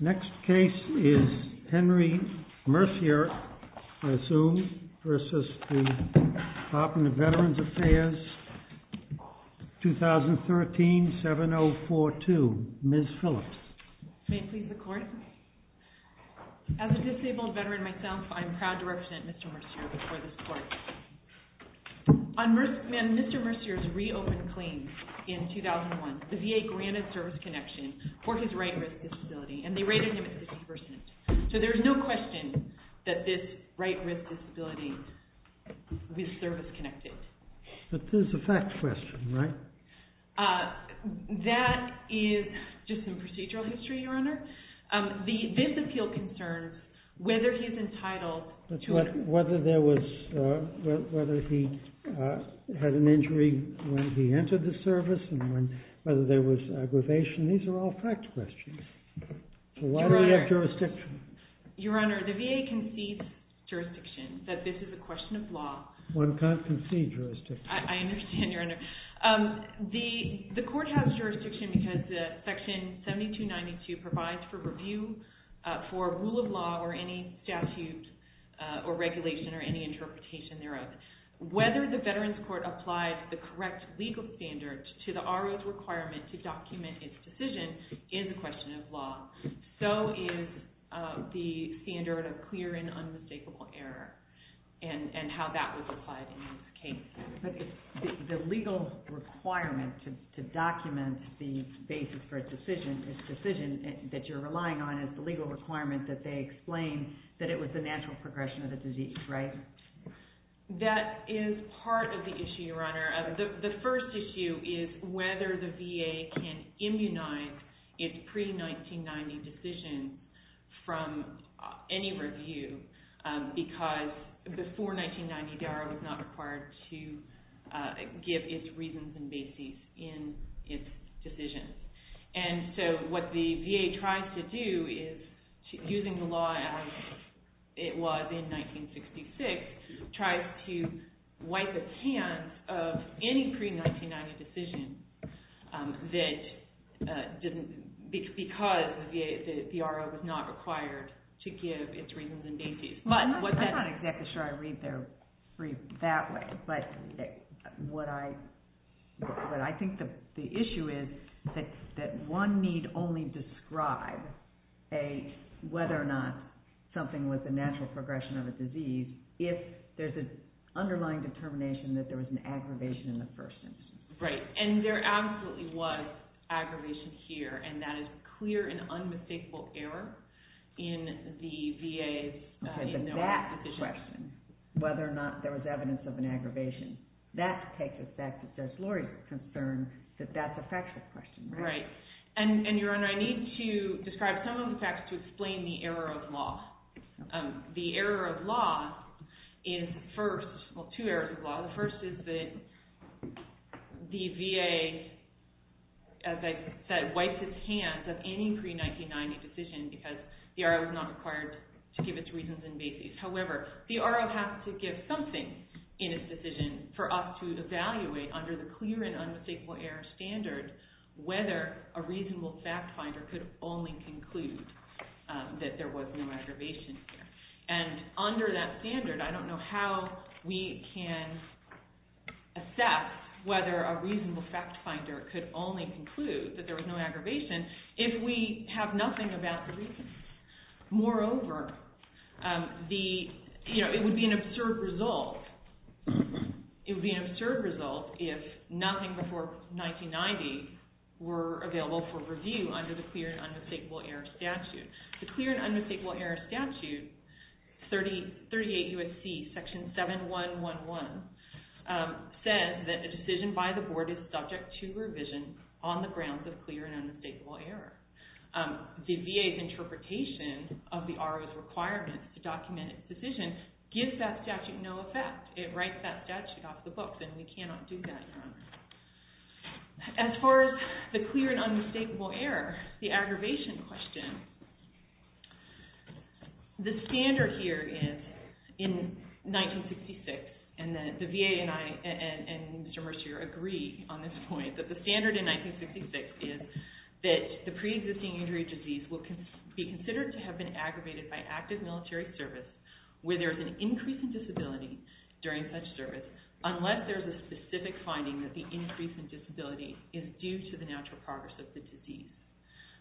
Next case is Henry Mercier. I assume, versus the Department of Veterans Affairs, 2013-7042. Ms. Phillips. May it please the court? As a disabled veteran myself, I'm proud to represent Mr. Mercier before this court. On Mr. Mercier's reopened claims in 2001, the VA granted service connection for his right wrist disability, and they rated him at 50%. So there's no question that this right wrist disability was service connected. But this is a fact question, right? That is just in procedural history, Your Honor. This appeal concerns whether he's entitled to a... Whether there was, whether he had an injury when he entered the service, and whether there was aggravation, these are all fact questions. Why do we have jurisdiction? Your Honor, the VA concedes jurisdiction, that this is a question of law. One can't concede jurisdiction. I understand, Your Honor. The court has jurisdiction because Section 7292 provides for review for rule of law or any statute or regulation or any interpretation thereof. Whether the Veterans Court applies the correct legal standards to the RO's requirement to document its decision is a question of law. So is the standard of clear and unmistakable error, and how that was applied in this case. But the legal requirement to document the basis for a decision, this decision that you're relying on is the legal requirement that they explain that it was the natural progression of the disease, right? That is part of the issue, Your Honor. The first issue is whether the VA can immunize its pre-1990 decision from any review, because before 1990, DARA was not required to give its reasons and basis in its decision. And so what the VA tries to do is, using the law as it was in 1966, tries to wipe its hands of any pre-1990 decision that didn't, because the RO was not required to give its reasons and basis. But what that- I'm not exactly sure I read their brief that way. But what I, what I think the issue is that one need only describe a, whether or not something was a natural progression of a disease if there's an underlying determination that there was an aggravation in the first instance. Right. And there absolutely was aggravation here, and that is clear and unmistakable error in the VA's- Okay, but that question, whether or not there was evidence of an aggravation, that takes us back to Judge Lori's concern that that's a factual question, right? Right. And, and Your Honor, I need to describe some of the facts to explain the error of law. The error of law is first, well, two errors of law. The first is that the VA, as I said, wipes its hands of any pre-1990 decision because the RO was not required to give its reasons and basis. However, the RO has to give something in its decision for us to evaluate under the clear and unmistakable error standard whether a reasonable fact finder could only conclude that there was no aggravation here. And under that standard, I don't know how we can assess whether a reasonable fact finder could only conclude that there was no aggravation if we have nothing about the reason. Moreover, the, you know, it would be an absurd result, it would be an absurd result if nothing before 1990 were available for review under the clear and unmistakable error statute. The clear and unmistakable error statute, 38 U.S.C. section 7111, says that a decision by the board is subject to revision on the grounds of clear and unmistakable error. The VA's interpretation of the RO's requirement to document its decision gives that statute no effect. It writes that statute off the books and we cannot do that, Your Honor. As far as the clear and unmistakable error, the aggravation question, the standard here is in 1966 and the VA and I and Mr. Mercier agree on this point that the standard in 1966 is that the pre-existing injury disease will be considered to have been aggravated by active military service where there's an increase in disability during such service unless there's a specific finding that the increase in disability is due to the natural progress of the disease.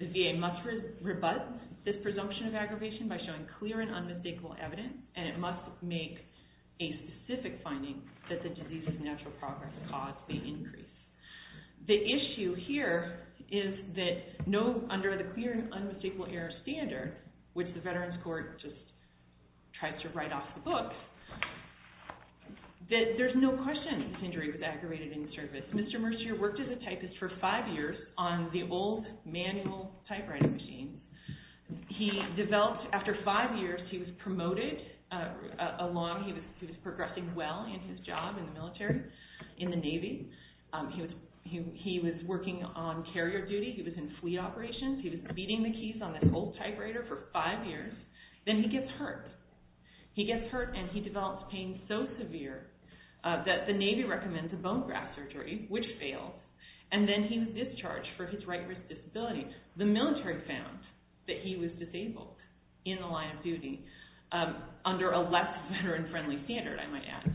The VA must rebut this presumption of aggravation by showing clear and unmistakable evidence and it must make a specific finding that the disease's natural progress caused the increase. The issue here is that no, under the clear and unmistakable error standard, which the Veterans Court just tried to write off the book, that there's no question this injury was aggravated in service. Mr. Mercier worked as a typist for five years on the old manual typewriting machine. He developed, after five years, he was promoted along, he was progressing well in his job in the military, in the Navy. He was working on carrier duty. He was in fleet operations. He was beating the keys on this old typewriter for five years. Then he gets hurt. He gets hurt and he develops pain so severe that the Navy recommends a bone graft surgery, which failed, and then he was discharged for his right wrist disability. The military found that he was disabled in the line of duty under a less veteran-friendly standard, I might add.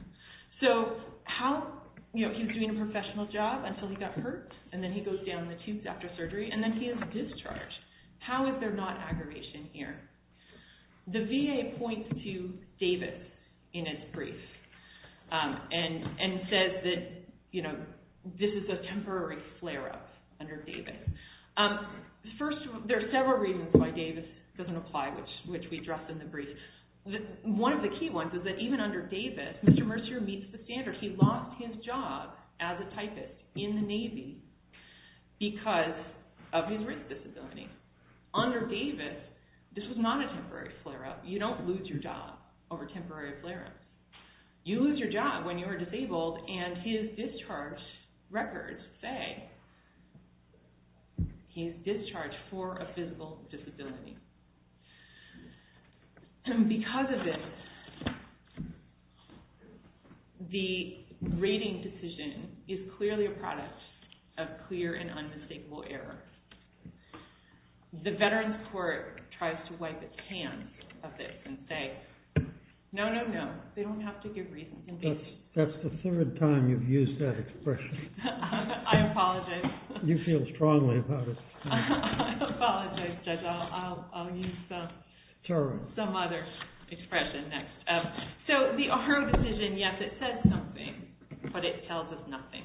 So how, you know, he was doing a professional job until he got hurt and then he goes down the tubes after surgery and then he is discharged. How is there not aggravation here? The VA points to Davis in its brief and says that, you know, this is a temporary flare-up under Davis. First, there are several reasons why Davis doesn't apply, which we address in the brief. One of the key ones is that even under Davis, Mr. Mercier meets the standard. He lost his job as a typist in the Navy because of his wrist disability. Under Davis, this was not a temporary flare-up. You don't lose your job over temporary flare-ups. You lose your job when you are disabled and his discharge records say he is discharged for a physical disability. Because of this, the rating decision is clearly a product of clear and unmistakable error. The Veterans Court tries to wipe its hands of this and say, no, no, no. They don't have to give reasons. That's the third time you've used that expression. I apologize. You feel strongly about it. I apologize, Judge. I'll use some other expression next. So the R.O. decision, yes, it says something, but it tells us nothing.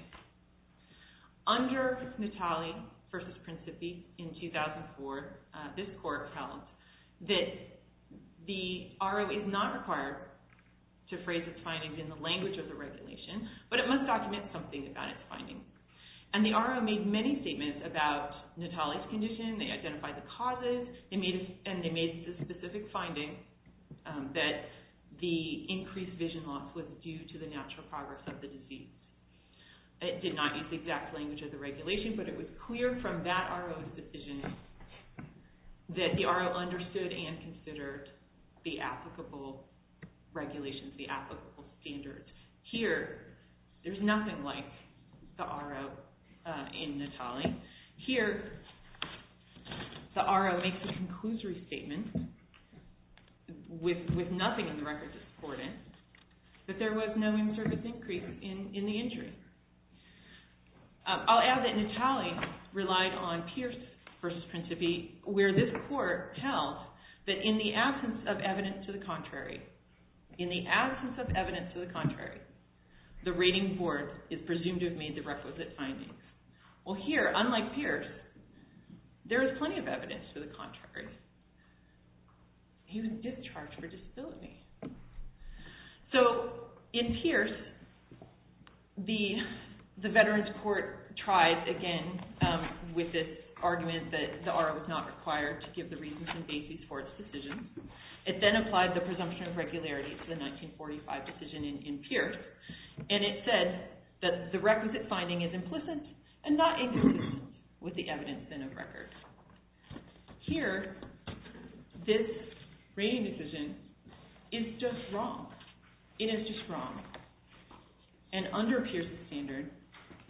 Under Natale v. Principi in 2004, this court held that the R.O. is not required to phrase its findings in the language of the regulation, but it must document something about its findings. And the R.O. made many statements about Natale's condition. They identified the causes, and they made the specific finding that the increased vision loss was due to the natural progress of the disease. It did not use the exact language of the regulation, but it was clear from that R.O.'s decision that the R.O. understood and considered the applicable regulations, the applicable standards. Here, there's nothing like the R.O. in Natale. Here, the R.O. makes a conclusory statement with nothing in the record to support it, that there was no service increase in the injury. I'll add that Natale relied on Pierce v. Principi, where this court held that in the absence of evidence to the contrary, in the absence of evidence to the contrary, the rating board is presumed to have made the requisite findings. Well, here, unlike Pierce, there is plenty of evidence to the contrary. He was discharged for disability. So, in Pierce, the Veterans Court tried again with this argument that the R.O. was not required to give the reasons and basis for its decision. It then applied the presumption of regularity to the 1945 decision in Pierce, and it said that the requisite finding is implicit and not inconsistent with the evidence in a record. Here, this rating decision is just wrong. It is just wrong, and under Pierce's standard,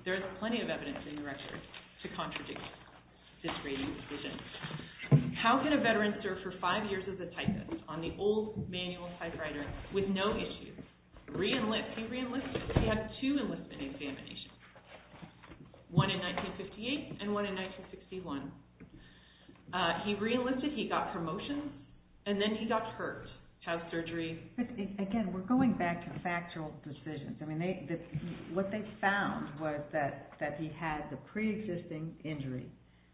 there is plenty of evidence in the record to contradict this rating decision. How can a veteran serve for five years as a typist on the old manual typewriter with no issues? He re-enlisted. He had two enlistment examinations, one in 1958 and one in 1961. He re-enlisted, he got promotions, and then he got hurt, had surgery. Again, we're going back to factual decisions. What they found was that he had the pre-existing injury,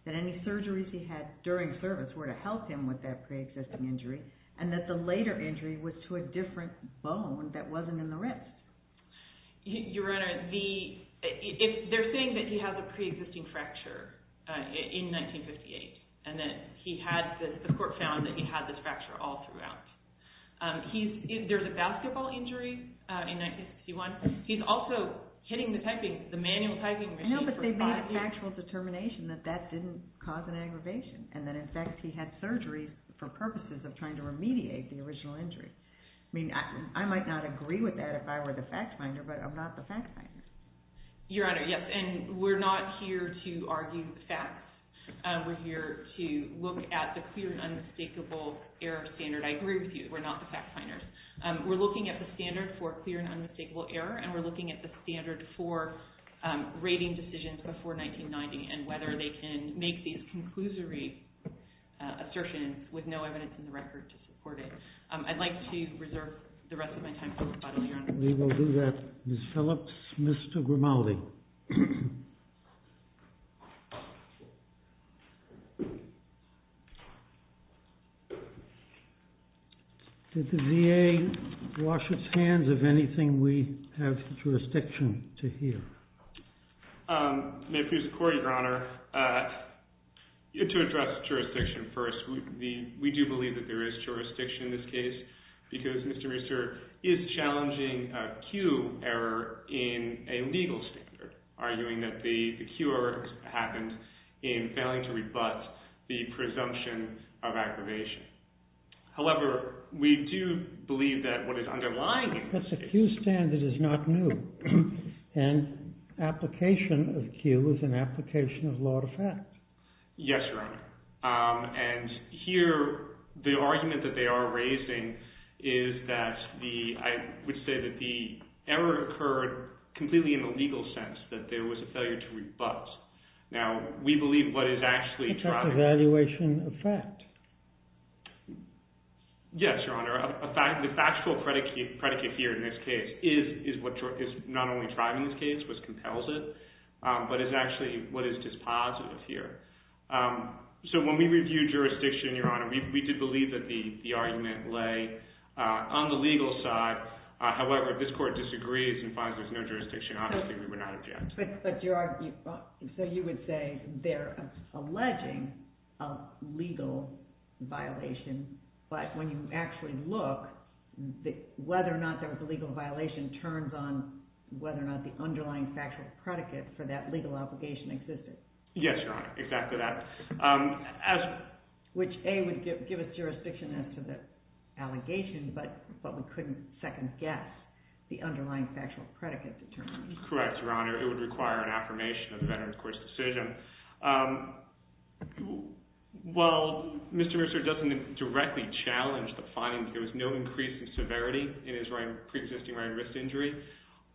that any surgeries he had during service were to help him with that pre-existing injury, and that the later injury was to a different bone that wasn't in the wrist. Your Honor, they're saying that he had the pre-existing fracture in 1958, and that he had this, the court found that he had this fracture all throughout. There's a basketball injury in 1961. He's also hitting the manual typing machine for five years. I know, but they made a factual determination that that didn't cause an aggravation, and that, in fact, he had surgery for purposes of trying to remediate the original injury. I mean, I might not agree with that if I were the fact finder, but I'm not the fact finder. Your Honor, yes, and we're not here to argue facts. We're here to look at the clear and unmistakable error standard. I agree with you. We're not the fact finders. We're looking at the standard for clear and unmistakable error, and we're looking at the assertions with no evidence in the record to support it. I'd like to reserve the rest of my time for rebuttal, Your Honor. We will do that. Ms. Phillips, Mr. Grimaldi. Did the VA wash its hands of anything we have jurisdiction to hear? May it please the Court, Your Honor. To address jurisdiction first, we do believe that there is jurisdiction in this case because Mr. Meusser is challenging a Q error in a legal standard, arguing that the Q error happened in failing to rebut the presumption of aggravation. However, we do believe that what is underlying... That's a Q standard that is not new. And application of Q is an application of law to fact. Yes, Your Honor. And here, the argument that they are raising is that the... I would say that the error occurred completely in the legal sense, that there was a failure to rebut. Now, we believe what is actually driving... It's an evaluation of fact. Yes, Your Honor. The factual predicate here in this case is not only driving this case, which compels it, but is actually what is dispositive here. So when we reviewed jurisdiction, Your Honor, we did believe that the argument lay on the legal side. However, if this Court disagrees and finds there's no jurisdiction, obviously we would not object. But Your Honor, so you would say they're alleging a legal violation, but when you actually look, whether or not there was a legal violation turns on whether or not the underlying factual predicate for that legal obligation existed. Yes, Your Honor. Exactly that. Which, A, would give us jurisdiction as to the allegation, but we couldn't second-guess the underlying factual predicate determined. Correct, Your Honor. It would require an affirmation of the Veterans Court's decision. While Mr. Reusser doesn't directly challenge the finding that there was no increase in severity in his pre-existing right wrist injury,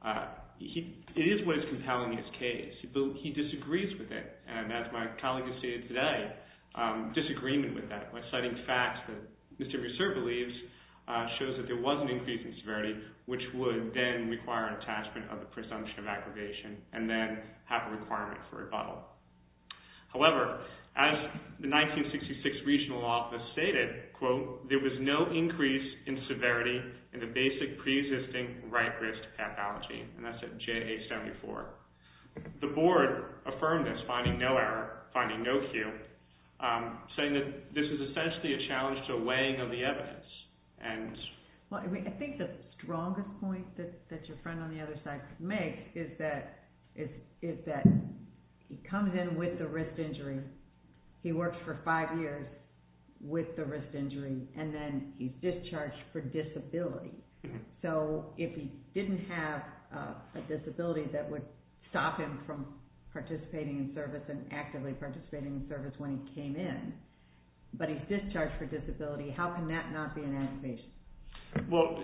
it is what is compelling in his case. He disagrees with it. And as my colleague has stated today, disagreement with that, by citing facts that Mr. Reusser believes shows that there was an increase in severity, which would then require an attachment of the presumption of aggravation and then have a requirement for rebuttal. However, as the 1966 Regional Office stated, quote, there was no increase in severity in the basic pre-existing right wrist pathology. And that's at J.A. 74. The Board affirmed this, finding no error, finding no cue, saying that this is essentially a challenge to a weighing of the evidence. I think the strongest point that your friend on the other side could make is that he comes in with the wrist injury, he works for five years with the wrist injury, and then he's discharged for disability. So if he didn't have a disability that would stop him from participating in service and actively participating in service when he came in, but he's discharged for disability, how can that not be an accusation? Well,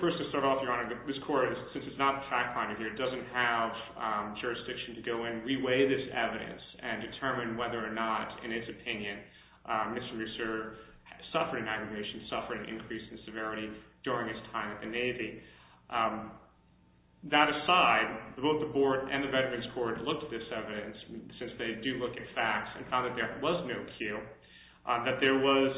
first to start off, Your Honor, since it's not a fact finder here, it doesn't have jurisdiction to go and re-weigh this evidence and determine whether or not, in his opinion, Mr. Meusser suffered an aggravation, suffered an increase in severity during his time at the Navy. That aside, both the Board and the Veterans Court looked at this evidence, since they do look at facts, and found that there was no cue, that there was,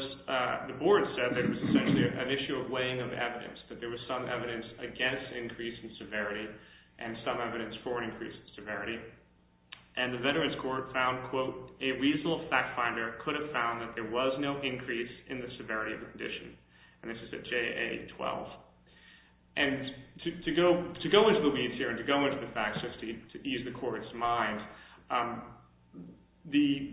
the Board said, an issue of weighing of evidence, that there was some evidence against increase in severity and some evidence for an increase in severity. And the Veterans Court found, quote, a reasonable fact finder could have found that there was no increase in the severity of the condition. And this is at JA-12. And to go into the weeds here and to go into the facts just to ease the Court's mind,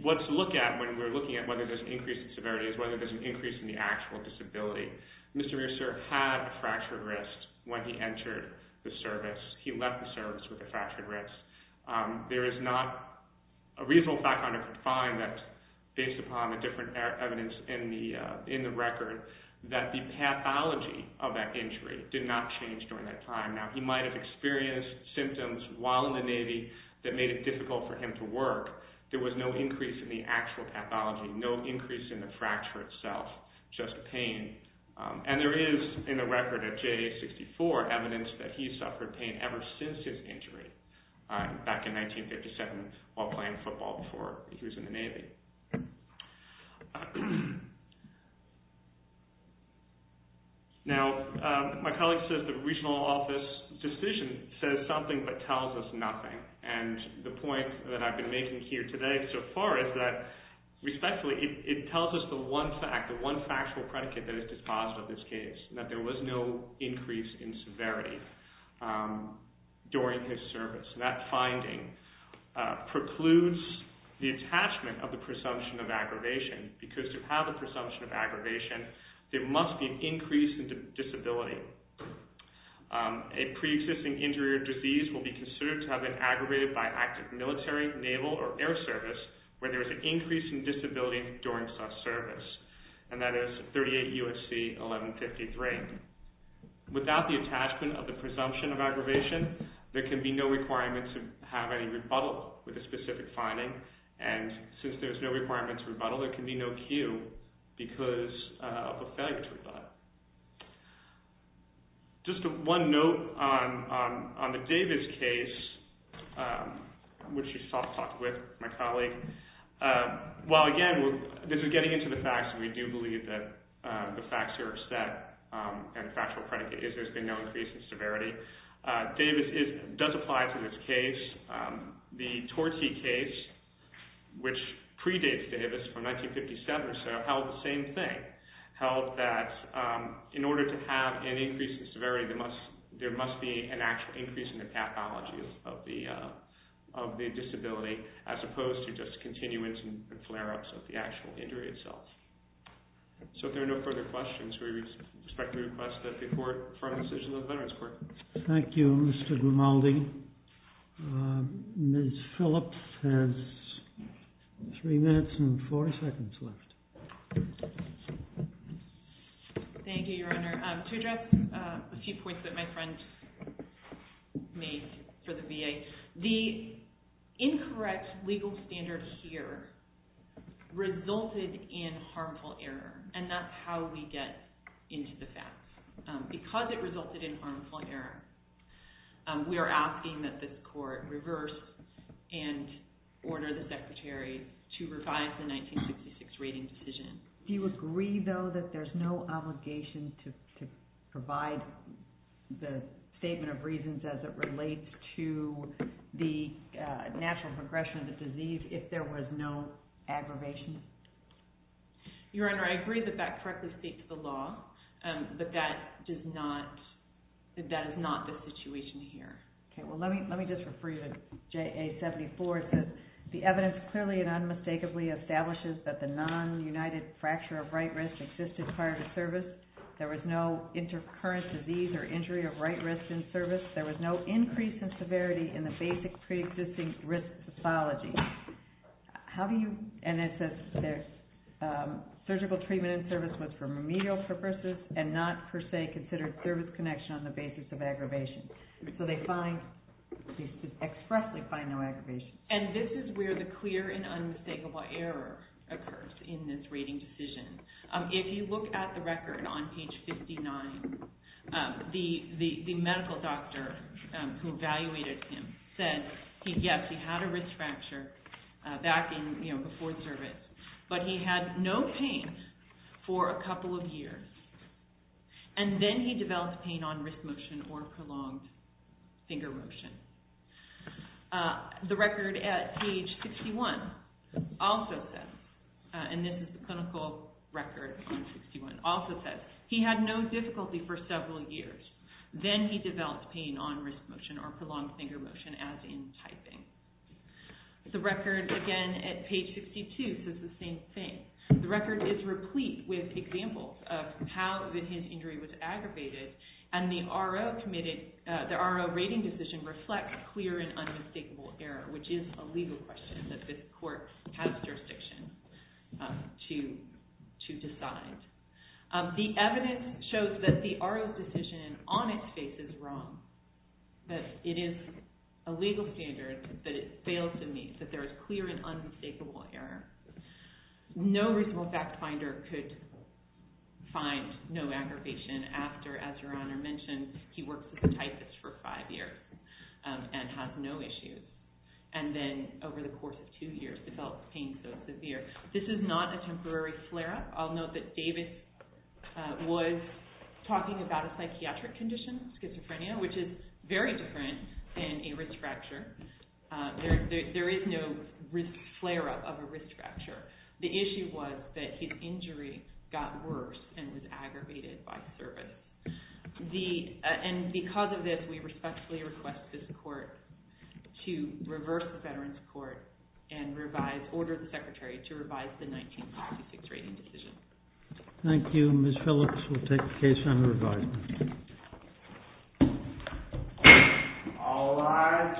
what to look at when we're looking at whether there's an increase in severity is whether there's an increase in the actual disability. Mr. Meusser had a fractured wrist when he entered the service. He left the service with a fractured wrist. There is not a reasonable fact finder could find that, based upon the different evidence in the record, that the pathology of that injury did not change during that time. Now, he might have experienced symptoms while in the Navy that made it difficult for him to work. There was no increase in the actual pathology, no increase in the fracture itself, just pain. And there is, in the record at JA-64, evidence that he suffered pain ever since his injury back in 1957 while playing football before he was in the Navy. Now, my colleague says that the regional office decision says something but tells us nothing. And the point that I've been making here today so far is that respectfully, it tells us the one fact, the one factual predicate that is dispositive of this case, that there was no increase in severity during his service. That finding precludes the attachment of the presumption of aggravation because to have a presumption of aggravation there must be an increase in disability. A pre-existing injury or disease will be considered to have been aggravated by active military, naval, or air service where there is an increase in disability during such service. And that is 38 U.S.C. 1153. Without the attachment of the presumption of aggravation there can be no requirement to have any rebuttal with a specific finding and since there is no requirement to rebuttal there can be no cue because of a failure to rebut. Just one note on the Davis case which you soft-talked with my colleague while again this is getting into the facts and we do believe that the facts are set and the factual predicate is there has been no increase in severity. Davis does apply to this case the Torce case which predates Davis from 1957 or so held the same thing held that in order to have an increase in severity there must be an actual increase in the pathology of the of the disability as opposed to just continuance and flare-ups of the actual injury itself. So if there are no further questions we respectfully request that the court for a decision of the Veterans Court. Thank you Mr. Grimaldi Ms. Phillips has 3 minutes and 4 seconds left Thank you Your Honor To address a few points that my friend made for the VA the incorrect legal standard here resulted in harmful error and that's how we get into the facts because it resulted in harmful error we are asking that this court reverse and order the Secretary to revise the 1966 rating decision Do you agree though that there's no obligation to provide the statement of reasons as it relates to the natural progression of the disease if there was no aggravation? Your Honor I agree that that correctly states the law but that does not that is not the situation here Okay well let me just refer you to J.A. 74 the evidence clearly and unmistakably establishes that the non-united fracture of right wrist existed prior to service. There was no intercurrent disease or injury of right wrist in service. There was no increase in severity in the basic pre-existing risk pathology How do you and it says surgical treatment in service was for remedial purposes and not per se considered service connection on the basis of aggravation So they find expressly find no aggravation And this is where the clear and unmistakable error occurs in this rating decision If you look at the record on page 59 the medical doctor who evaluated him said yes he had a wrist fracture back in before service but he had no pain for a couple of years and then he prolonged finger motion The record at page 61 also says and this is the clinical record on 61 also says he had no difficulty for several years then he developed pain on wrist motion or prolonged finger motion as in typing The record again at page 62 says the same thing The record is replete with examples of how his injury was aggravated and the RO the RO rating decision reflects clear and unmistakable error which is a legal question that this court has jurisdiction to decide The evidence shows that the RO's decision on its face is wrong that it is a legal standard that it fails to meet that there is clear and unmistakable error No reasonable fact finder could find no aggravation after as your honor mentioned he worked as a typist for five years and has no issues and then over the course of two years developed pain so severe this is not a temporary flare up I'll note that Davis was talking about a psychiatric condition schizophrenia which is very different than a wrist fracture there is no flare up of a wrist fracture the issue was that his injury got worse and was aggravated by service and because of this we respectfully request this court to reverse the veterans court and revise, order the secretary to revise the 1956 rating decision All rise